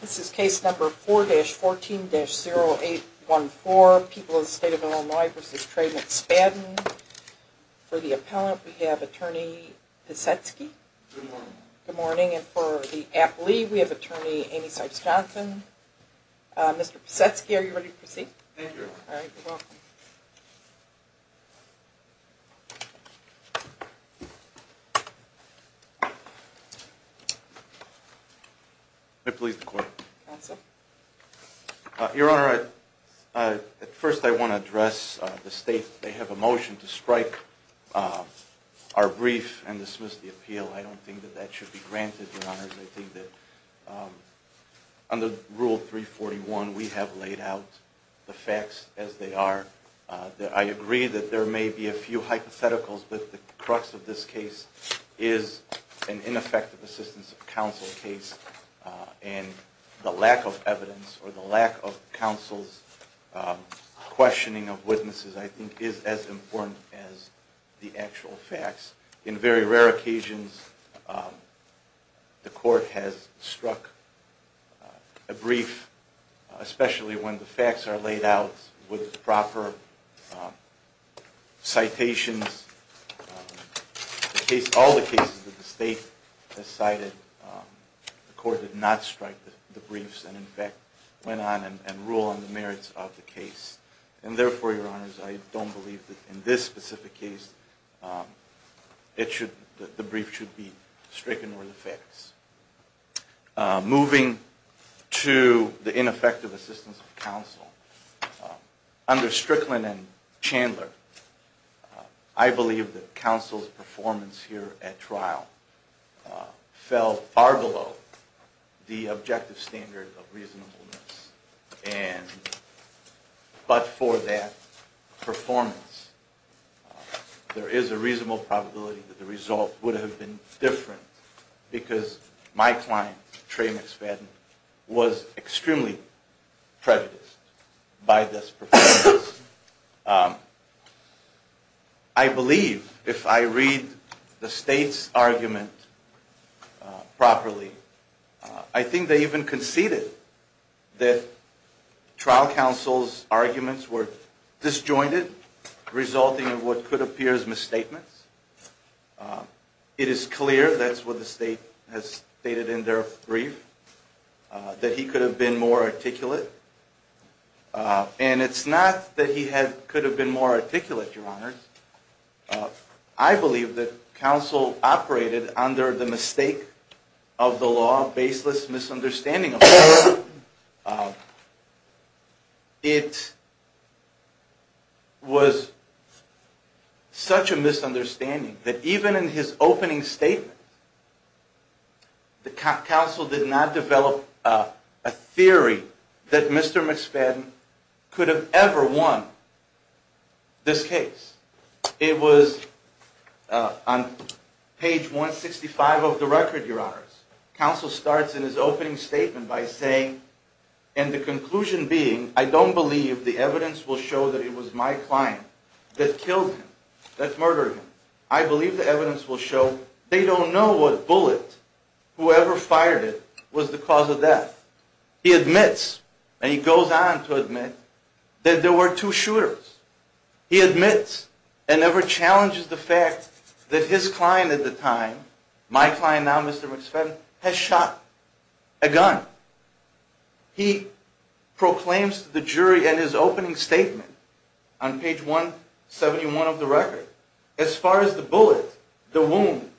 This is case number 4-14-0814, People in the State of Illinois v. Trey McSpadden. For the appellant, we have attorney Pisetsky. Good morning. And for the court. Your Honor, at first I want to address the state. They have a motion to strike our brief and dismiss the appeal. I don't think that that should be granted, Your Honor. I think that under Rule 341, we have laid out the facts as they are. I agree that there may be a few hypotheticals, but the crux of this case is an ineffective assistance of counsel case, and I think that's what we need to do. And the lack of evidence or the lack of counsel's questioning of witnesses, I think, is as important as the actual facts. In very rare occasions, the court has struck a brief, especially when the facts are laid out with proper citations. In all the cases that the state has cited, the court did not strike the briefs and, in fact, went on and ruled on the merits of the case. And therefore, Your Honor, I don't believe that in this specific case the brief should be stricken or the facts. Moving to the ineffective assistance of counsel, under Strickland and Chandler, I believe that counsel's performance here at trial fell far below the objective standard of reasonableness. But for that performance, there is a reasonable probability that the result would have been different. Because my client, Tramex Fadden, was extremely prejudiced by this performance. I believe, if I read the state's argument properly, I think they even conceded that trial counsel's arguments were disjointed, resulting in what could appear as misstatements. It is clear, that's what the state has stated in their brief, that he could have been more articulate. And it's not that he could have been more articulate, Your Honor. I believe that counsel operated under the mistake of the law, baseless misunderstanding of the law. It was such a misunderstanding that even in his opening statement, the counsel did not develop a theory that Mr. McFadden could have ever won this case. It was on page 165 of the record, Your Honors. Counsel starts in his opening statement by saying, and the conclusion being, I don't believe the evidence will show that it was my client that killed him, that murdered him. I believe the evidence will show they don't know what bullet, whoever fired it, was the cause of death. He admits, and he goes on to admit, that there were two shooters. He admits and never challenges the fact that his client at the time, my client now, Mr. McFadden, has shot a gun. He proclaims to the jury in his opening statement on page 171 of the record, as far as the bullet, the wound,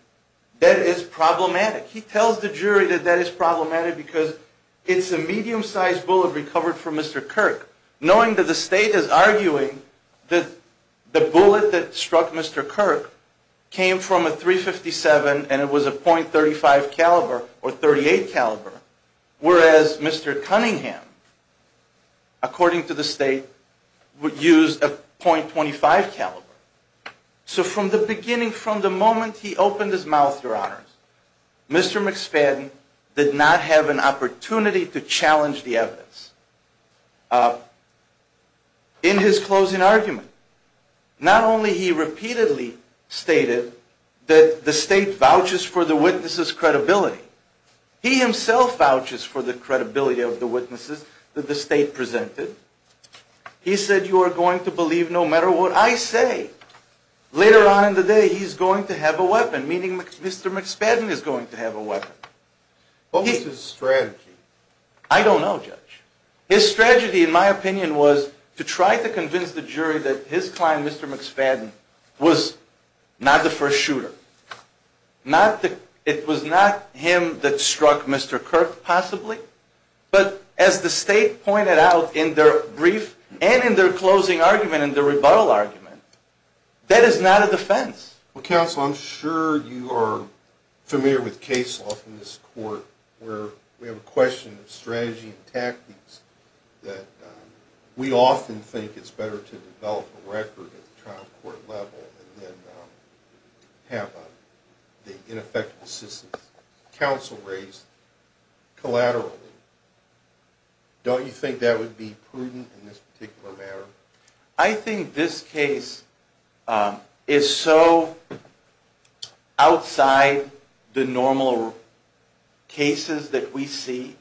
that is problematic. He tells the jury that that is problematic because it's a medium-sized bullet recovered from Mr. Kirk, knowing that the state is arguing that the bullet that struck Mr. Kirk came from a .357 and it was a .35 caliber or .38 caliber. Whereas Mr. Cunningham, according to the state, would use a .25 caliber. So from the beginning, from the moment he opened his mouth, Your Honors, Mr. McFadden did not have an opportunity to challenge the evidence. In his closing argument, not only he repeatedly stated that the state vouches for the witnesses' credibility, he himself vouches for the credibility of the witnesses that the state presented. He said, you are going to believe no matter what I say. Later on in the day, he's going to have a weapon, meaning Mr. McFadden is going to have a weapon. What was his strategy? I don't know, Judge. His strategy, in my opinion, was to try to convince the jury that his client, Mr. McFadden, was not the first shooter. It was not him that struck Mr. Kirk, possibly, but as the state pointed out in their brief and in their closing argument, in their rebuttal argument, that is not a defense. Counsel, I'm sure you are familiar with case law from this court where we have a question of strategy and tactics that we often think it's better to develop a record at the trial court level than have the ineffective assistance of counsel raised collaterally. Don't you think that would be prudent in this particular matter? I think this case is so outside the normal cases that we see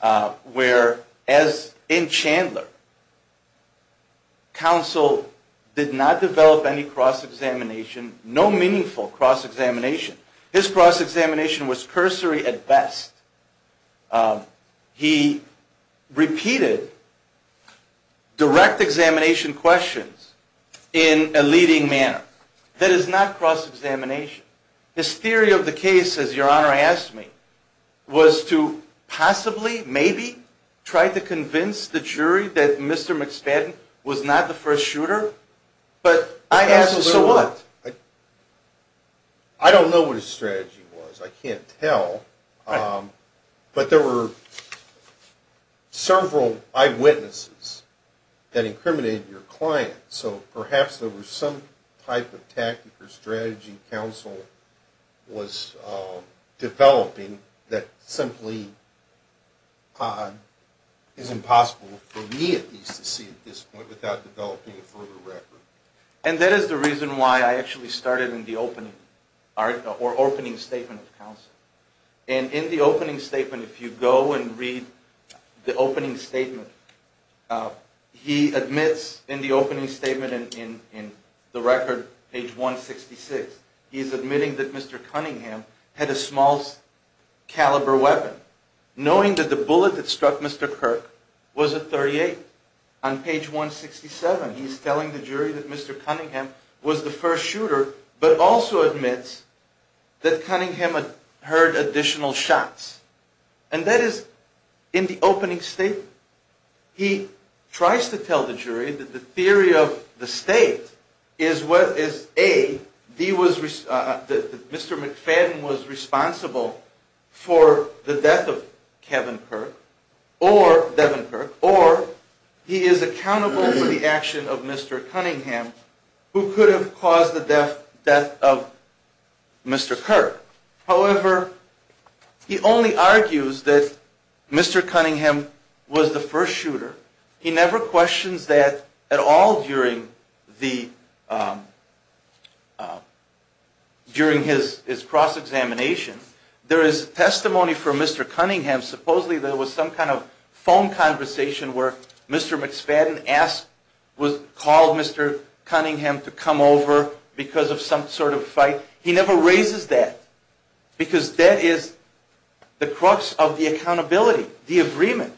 where, as in Chandler, counsel did not develop any cross-examination, no meaningful cross-examination. His cross-examination was cursory at best. He repeated direct examination questions in a leading manner. That is not cross-examination. His theory of the case, as Your Honor asked me, was to possibly, maybe, try to convince the jury that Mr. McFadden was not the first shooter, but I asked, so what? I don't know what his strategy was. I can't tell. But there were several eyewitnesses that incriminated your client, so perhaps there was some type of tactic or strategy counsel was developing that simply is impossible for me, at least, to see at this point without developing a further record. And that is the reason why I actually started in the opening statement of counsel. And in the opening statement, if you go and read the opening statement, he admits in the opening statement in the record, page 166, he's admitting that Mr. Cunningham had a small caliber weapon, knowing that the bullet that struck Mr. Kirk was a .38. On page 167, he's telling the jury that Mr. Cunningham was the first shooter, but also admits that Cunningham had heard additional shots. And that is in the opening statement. He tries to tell the jury that the theory of the state is, A, that Mr. McFadden was responsible for the death of Kevin Kirk, or Devin Kirk, or he is accountable for the action of Mr. Cunningham, who could have caused the death of Mr. Kirk. However, he only argues that Mr. Cunningham was the first shooter. He never questions that at all during his cross-examination. There is testimony for Mr. Cunningham. Supposedly there was some kind of phone conversation where Mr. McFadden called Mr. Cunningham to come over because of some sort of fight. He never raises that, because that is the crux of the accountability, the agreement.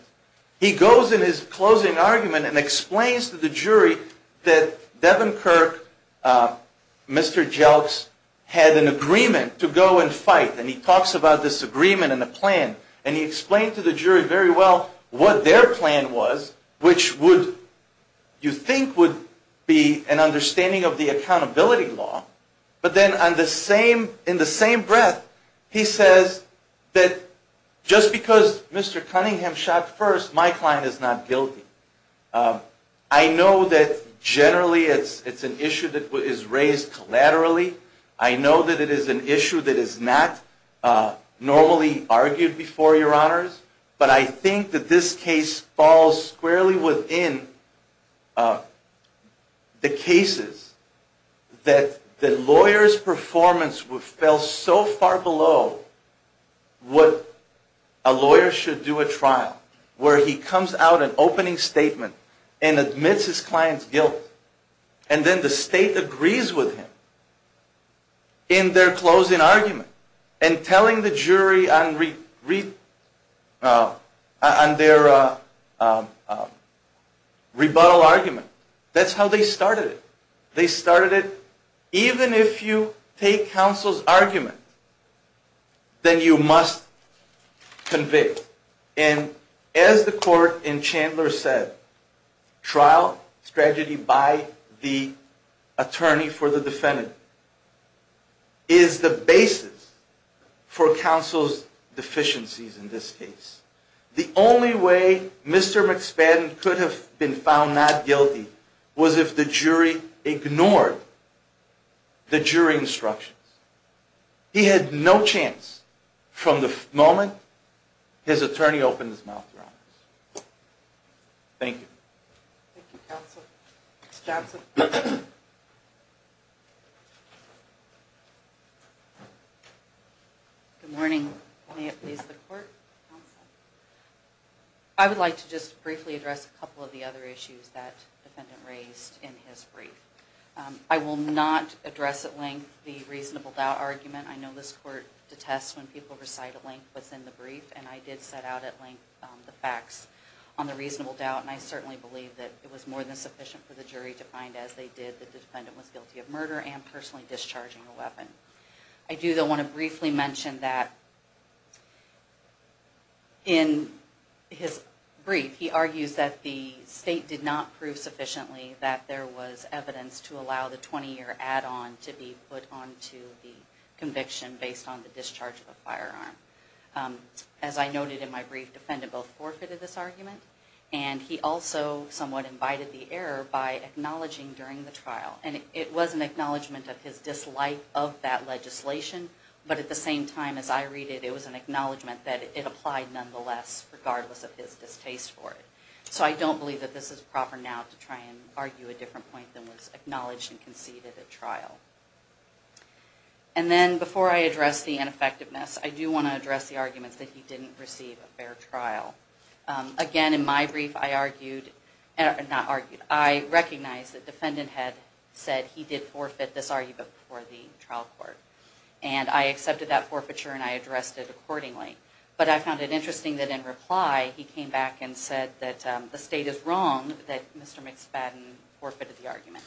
He goes in his closing argument and explains to the jury that Devin Kirk, Mr. Jelks, had an agreement to go and fight. And he talks about this agreement and the plan. And he explains to the jury very well what their plan was, which you think would be an understanding of the accountability law. But then in the same breath, he says that just because Mr. Cunningham shot first, my client is not guilty. I know that generally it's an issue that is raised collaterally. I know that it is an issue that is not normally argued before, Your Honors. But I think that this case falls squarely within the cases that the lawyer's performance fell so far below what a lawyer should do at trial, where he comes out with an opening statement and admits his client's guilt. And then the state agrees with him in their closing argument and telling the jury on their rebuttal argument. That's how they started it. They started it, even if you take counsel's argument, then you must convict. And as the court in Chandler said, trial strategy by the attorney for the defendant is the basis for counsel's deficiencies in this case. The only way Mr. McSpadden could have been found not guilty was if the jury ignored the jury instructions. He had no chance from the moment his attorney opened his mouth, Your Honors. Thank you. Thank you, counsel. Ms. Johnson. Good morning. May it please the court. I would like to just briefly address a couple of the other issues that the defendant raised in his brief. I will not address at length the reasonable doubt argument. I know this court detests when people recite at length what's in the brief, and I did set out at length the facts on the reasonable doubt. And I certainly believe that it was more than sufficient for the jury to find, as they did, that the defendant was guilty of murder and personally discharging a weapon. I do, though, want to briefly mention that in his brief, he argues that the state did not prove sufficiently that there was evidence to allow the 20-year add-on to be put onto the conviction based on the discharge of a firearm. As I noted in my brief, the defendant both forfeited this argument, and he also somewhat invited the error by acknowledging during the trial. And it was an acknowledgment of his dislike of that legislation, but at the same time as I read it, it was an acknowledgment that it applied nonetheless, regardless of his distaste for it. So I don't believe that this is proper now to try and argue a different point than was acknowledged and conceded at trial. And then before I address the ineffectiveness, I do want to address the arguments that he didn't receive a fair trial. Again, in my brief, I recognized that the defendant had said he did forfeit this argument before the trial court. And I accepted that forfeiture, and I addressed it accordingly. But I found it interesting that in reply, he came back and said that the state is wrong that Mr. McSpadden forfeited the argument.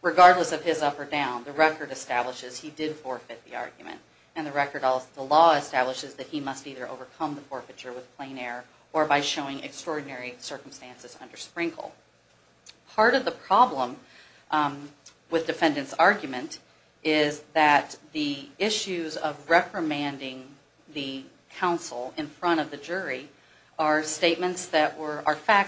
Regardless of his up or down, the record establishes he did forfeit the argument. And the law establishes that he must either overcome the forfeiture with plain air or by showing extraordinary circumstances under Sprinkle. Part of the problem with defendant's argument is that the issues of reprimanding the counsel in front of the jury are facts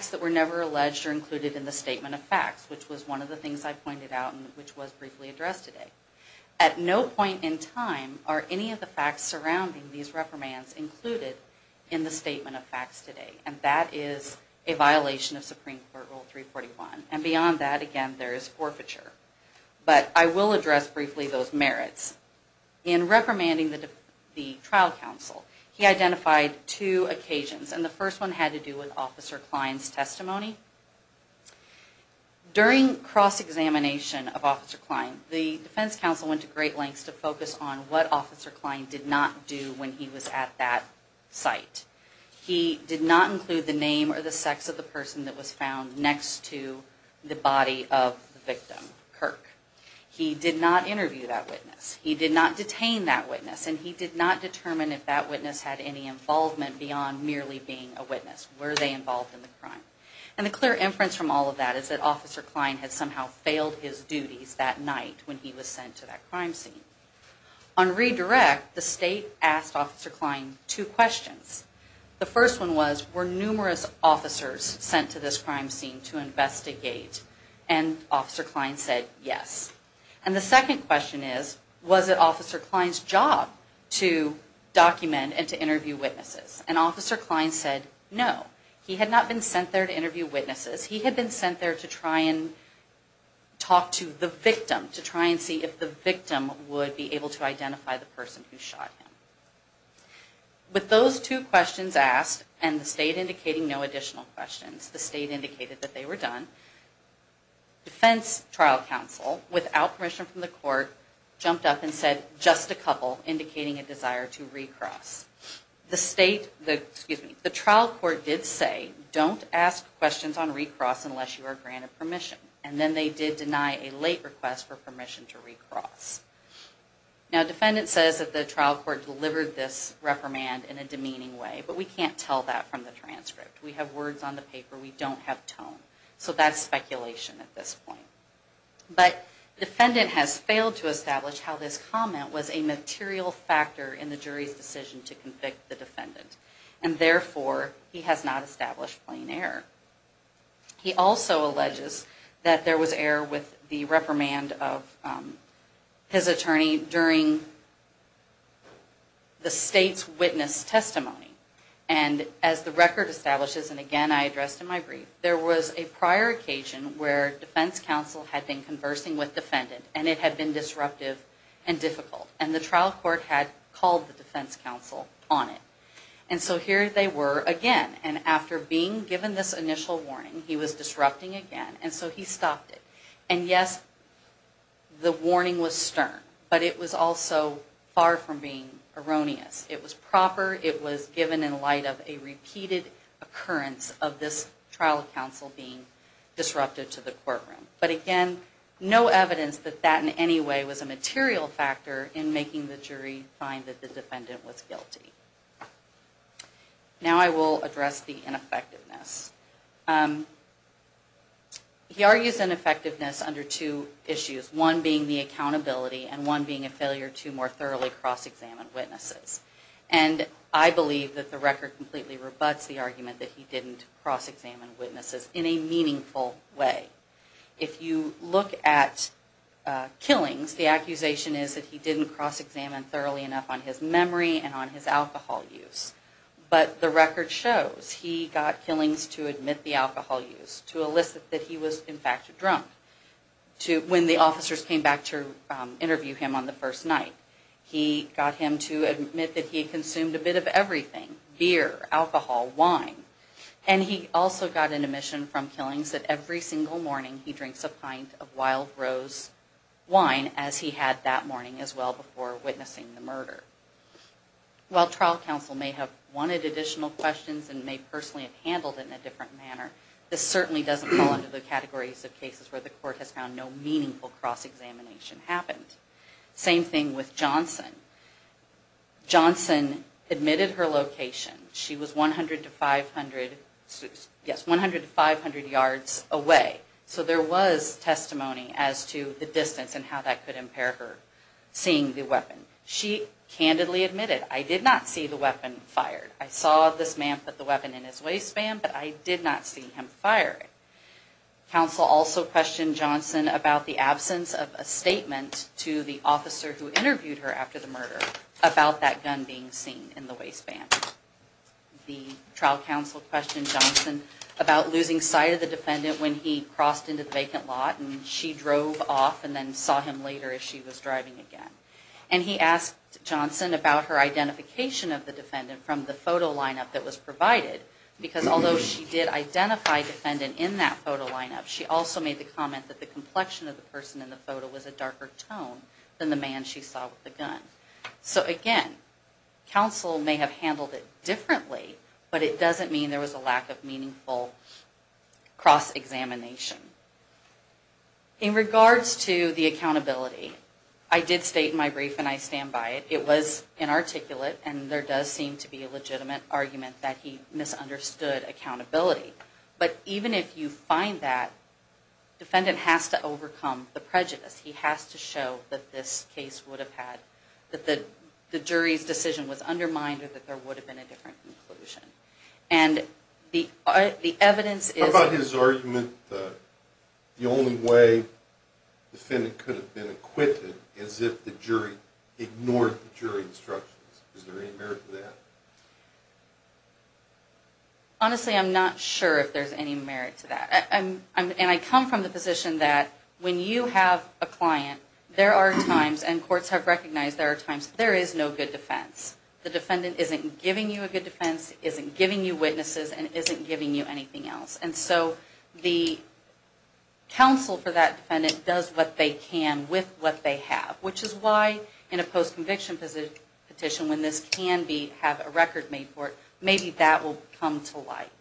that were never alleged or included in the statement of facts, which was one of the things I pointed out and which was briefly addressed today. At no point in time are any of the facts surrounding these reprimands included in the statement of facts today. And that is a violation of Supreme Court Rule 341. And beyond that, again, there is forfeiture. But I will address briefly those merits. In reprimanding the trial counsel, he identified two occasions. And the first one had to do with Officer Klein's testimony. During cross-examination of Officer Klein, the defense counsel went to great lengths to focus on what Officer Klein did not do when he was at that site. He did not include the name or the sex of the person that was found next to the body of the victim, Kirk. He did not interview that witness. He did not detain that witness. And he did not determine if that witness had any involvement beyond merely being a witness. Were they involved in the crime? And the clear inference from all of that is that Officer Klein had somehow failed his duties that night when he was sent to that crime scene. On redirect, the state asked Officer Klein two questions. The first one was, were numerous officers sent to this crime scene to investigate? And Officer Klein said, yes. And the second question is, was it Officer Klein's job to document and to interview witnesses? And Officer Klein said, no. He had not been sent there to interview witnesses. He had been sent there to try and talk to the victim, to try and see if the victim would be able to identify the person who shot him. With those two questions asked, and the state indicating no additional questions, the state indicated that they were done, defense trial counsel, without permission from the court, jumped up and said, just a couple, indicating a desire to recross. The trial court did say, don't ask questions on recross unless you are granted permission. And then they did deny a late request for permission to recross. Now, defendant says that the trial court delivered this reprimand in a demeaning way. But we can't tell that from the transcript. We have words on the paper. We don't have tone. So that's speculation at this point. But defendant has failed to establish how this comment was a material factor in the jury's decision to convict the defendant. And therefore, he has not established plain error. He also alleges that there was error with the reprimand of his attorney during the state's witness testimony. And as the record establishes, and again, I addressed in my brief, there was a prior occasion where defense counsel had been conversing with defendant. And it had been disruptive and difficult. And the trial court had called the defense counsel on it. And so here they were again. And after being given this initial warning, he was disrupting again. And so he stopped it. And yes, the warning was stern. But it was also far from being erroneous. It was proper. It was given in light of a repeated occurrence of this trial counsel being disruptive to the courtroom. But again, no evidence that that in any way was a material factor in making the jury find that the defendant was guilty. Now I will address the ineffectiveness. He argues ineffectiveness under two issues. One being the accountability and one being a failure to more thoroughly cross-examine witnesses. And I believe that the record completely rebuts the argument that he didn't cross-examine witnesses in a meaningful way. If you look at killings, the accusation is that he didn't cross-examine thoroughly enough on his memory and on his alcohol use. But the record shows he got killings to admit the alcohol use, to elicit that he was in fact a drunk. When the officers came back to interview him on the first night. He got him to admit that he consumed a bit of everything. Beer, alcohol, wine. And he also got an admission from killings that every single morning he drinks a pint of wild rose wine, as he had that morning as well before witnessing the murder. While trial counsel may have wanted additional questions and may personally have handled it in a different manner, this certainly doesn't fall under the categories of cases where the court has found no meaningful cross-examination happened. Same thing with Johnson. Johnson admitted her location. She was 100 to 500 yards away. So there was testimony as to the distance and how that could impair her seeing the weapon. She candidly admitted, I did not see the weapon fired. I saw this man put the weapon in his waistband, but I did not see him fire it. Counsel also questioned Johnson about the absence of a statement to the officer who interviewed her after the murder, about that gun being seen in the waistband. The trial counsel questioned Johnson about losing sight of the defendant when he crossed into the vacant lot, and she drove off and then saw him later as she was driving again. And he asked Johnson about her identification of the defendant from the photo lineup that was provided, because although she did identify a defendant in that photo lineup, she also made the comment that the complexion of the person in the photo was a darker tone than the man she saw with the gun. So again, counsel may have handled it differently, but it doesn't mean there was a lack of meaningful cross-examination. In regards to the accountability, I did state in my brief, and I stand by it, it was inarticulate, and there does seem to be a legitimate argument that he misunderstood accountability. But even if you find that, the defendant has to overcome the prejudice. He has to show that this case would have had, that the jury's decision was undermined, or that there would have been a different conclusion. How about his argument that the only way the defendant could have been acquitted is if the jury ignored the jury instructions? Is there any merit to that? Honestly, I'm not sure if there's any merit to that. And I come from the position that when you have a client, there are times, and courts have recognized there are times, there is no good defense. The defendant isn't giving you a good defense, isn't giving you witnesses, and isn't giving you anything else. And so the counsel for that defendant does what they can with what they have. Which is why in a post-conviction petition, when this can have a record made for it, maybe that will come to light.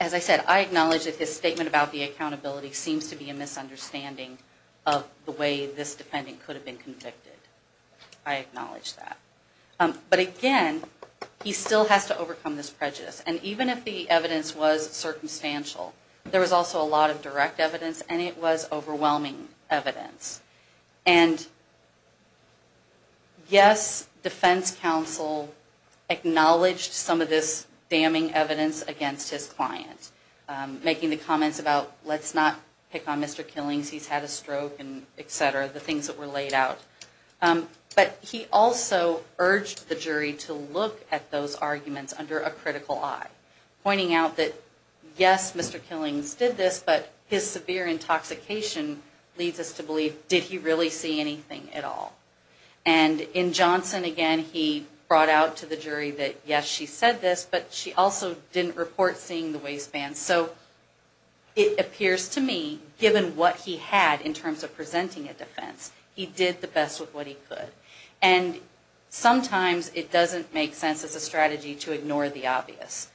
As I said, I acknowledge that his statement about the accountability seems to be a misunderstanding of the way this defendant could have been convicted. I acknowledge that. But again, he still has to overcome this prejudice. And even if the evidence was circumstantial, there was also a lot of direct evidence, and it was overwhelming evidence. And yes, defense counsel acknowledged some of this damning evidence against his client. Making the comments about, let's not pick on Mr. Killings, he's had a stroke, etc. The things that were laid out. But he also urged the jury to look at those arguments under a critical eye. Pointing out that, yes, Mr. Killings did this, but his severe intoxication leads us to believe, did he really see anything at all? And in Johnson, again, he brought out to the jury that, yes, she said this, but she also didn't report seeing the waistband. And so it appears to me, given what he had in terms of presenting a defense, he did the best with what he could. And sometimes it doesn't make sense as a strategy to ignore the obvious.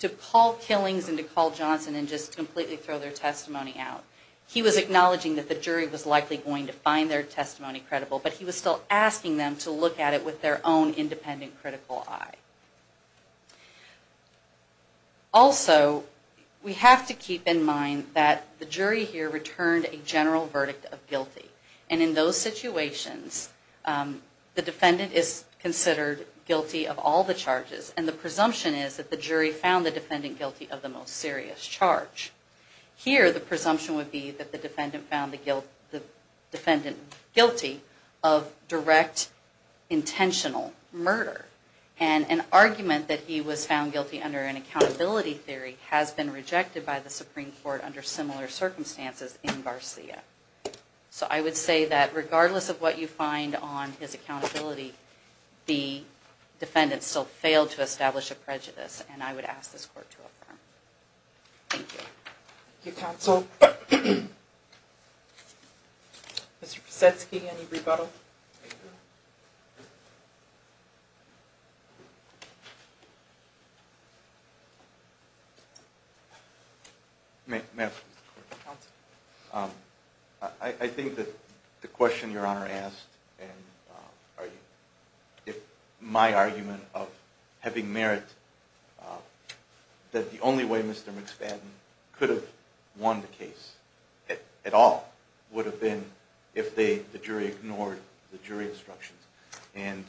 To call Killings and to call Johnson and just completely throw their testimony out. He was acknowledging that the jury was likely going to find their testimony credible, but he was still asking them to look at it with their own independent critical eye. Also, we have to keep in mind that the jury here returned a general verdict of guilty. And in those situations, the defendant is considered guilty of all the charges. And the presumption is that the jury found the defendant guilty of the most serious charge. Here, the presumption would be that the defendant found the defendant guilty of direct, intentional murder. And an argument that he was found guilty under an accountability theory has been rejected by the Supreme Court under similar circumstances in Garcia. So I would say that regardless of what you find on his accountability, the defendant still failed to establish a prejudice. And I would ask this Court to affirm. Thank you, Counsel. Mr. Posetsky, any rebuttal? I think that the question Your Honor asked and my argument of having merit, that the only way Mr. McFadden could have won the case at all would have been if the jury ignored the jury instructions. And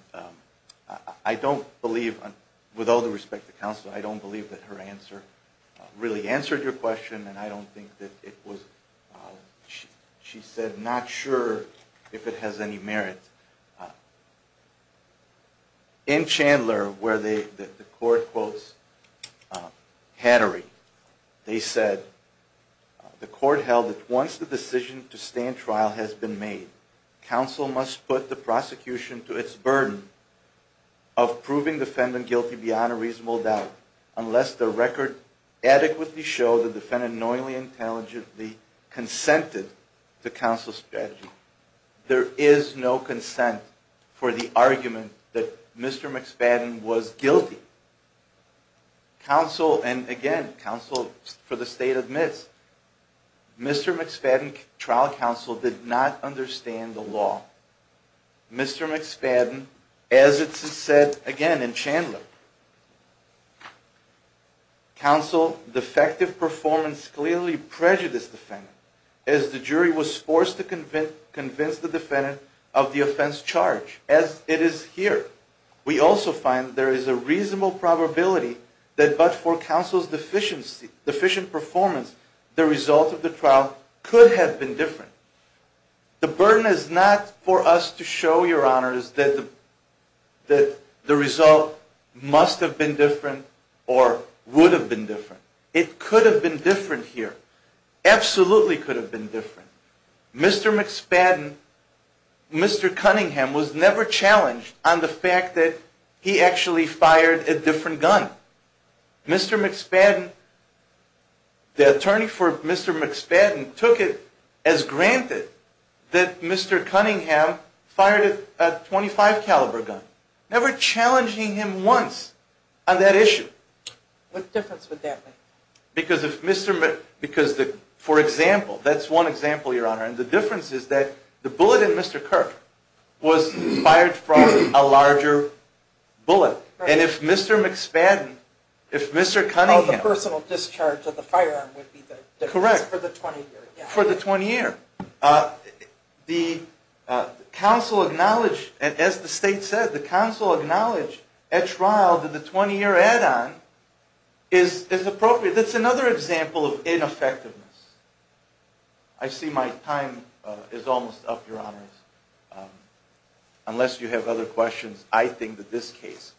I don't believe, with all due respect to Counsel, I don't believe that her answer really answered your question, and I don't think that it was, she said, not sure if it has any merit. In Chandler, where the Court quotes Hattery, they said, the Court held that once the decision to stand trial has been made, Counsel must put the prosecution to its burden of proving the defendant guilty beyond a reasonable doubt unless the record adequately shows the defendant knowingly, intelligently consented to Counsel's strategy. There is no consent for the argument that Mr. McFadden was guilty. Counsel, and again, Counsel for the State admits, Mr. McFadden, trial Counsel, did not understand the law. Mr. McFadden, as it's said again in Chandler, Counsel, defective performance clearly prejudiced the defendant as the jury was forced to convince the defendant of the offense charge. As it is here, we also find there is a reasonable probability that but for Counsel's deficient performance, the result of the trial could have been different. The burden is not for us to show your honors that the result must have been different or would have been different. It could have been different here. Absolutely could have been different. Mr. McFadden, Mr. Cunningham was never challenged on the fact that he actually fired a different gun. Mr. McFadden, the attorney for Mr. McFadden took it as granted that Mr. Cunningham fired a .25 caliber gun. Never challenging him once on that issue. What difference would that make? Because if Mr. McFadden, for example, that's one example your honor, and the difference is that the bullet in Mr. Kirk was fired from a larger bullet. And if Mr. McFadden, if Mr. Cunningham. The personal discharge of the firearm would be the difference for the 20 year. Correct, for the 20 year. The Counsel acknowledged, as the state said, the Counsel acknowledged at trial that the 20 year add-on is appropriate. That's another example of ineffectiveness. I see my time is almost up, your honors. Unless you have other questions, I think that this case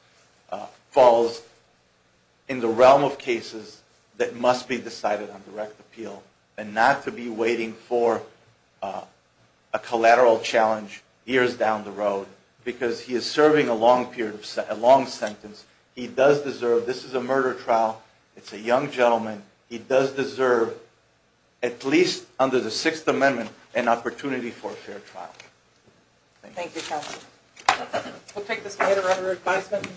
falls in the realm of cases that must be decided on direct appeal. And not to be waiting for a collateral challenge years down the road. Because he is serving a long sentence. He does deserve, this is a murder trial. It's a young gentleman. He does deserve, at least under the Sixth Amendment, an opportunity for a fair trial. Thank you Counsel. We'll take this matter under advisement.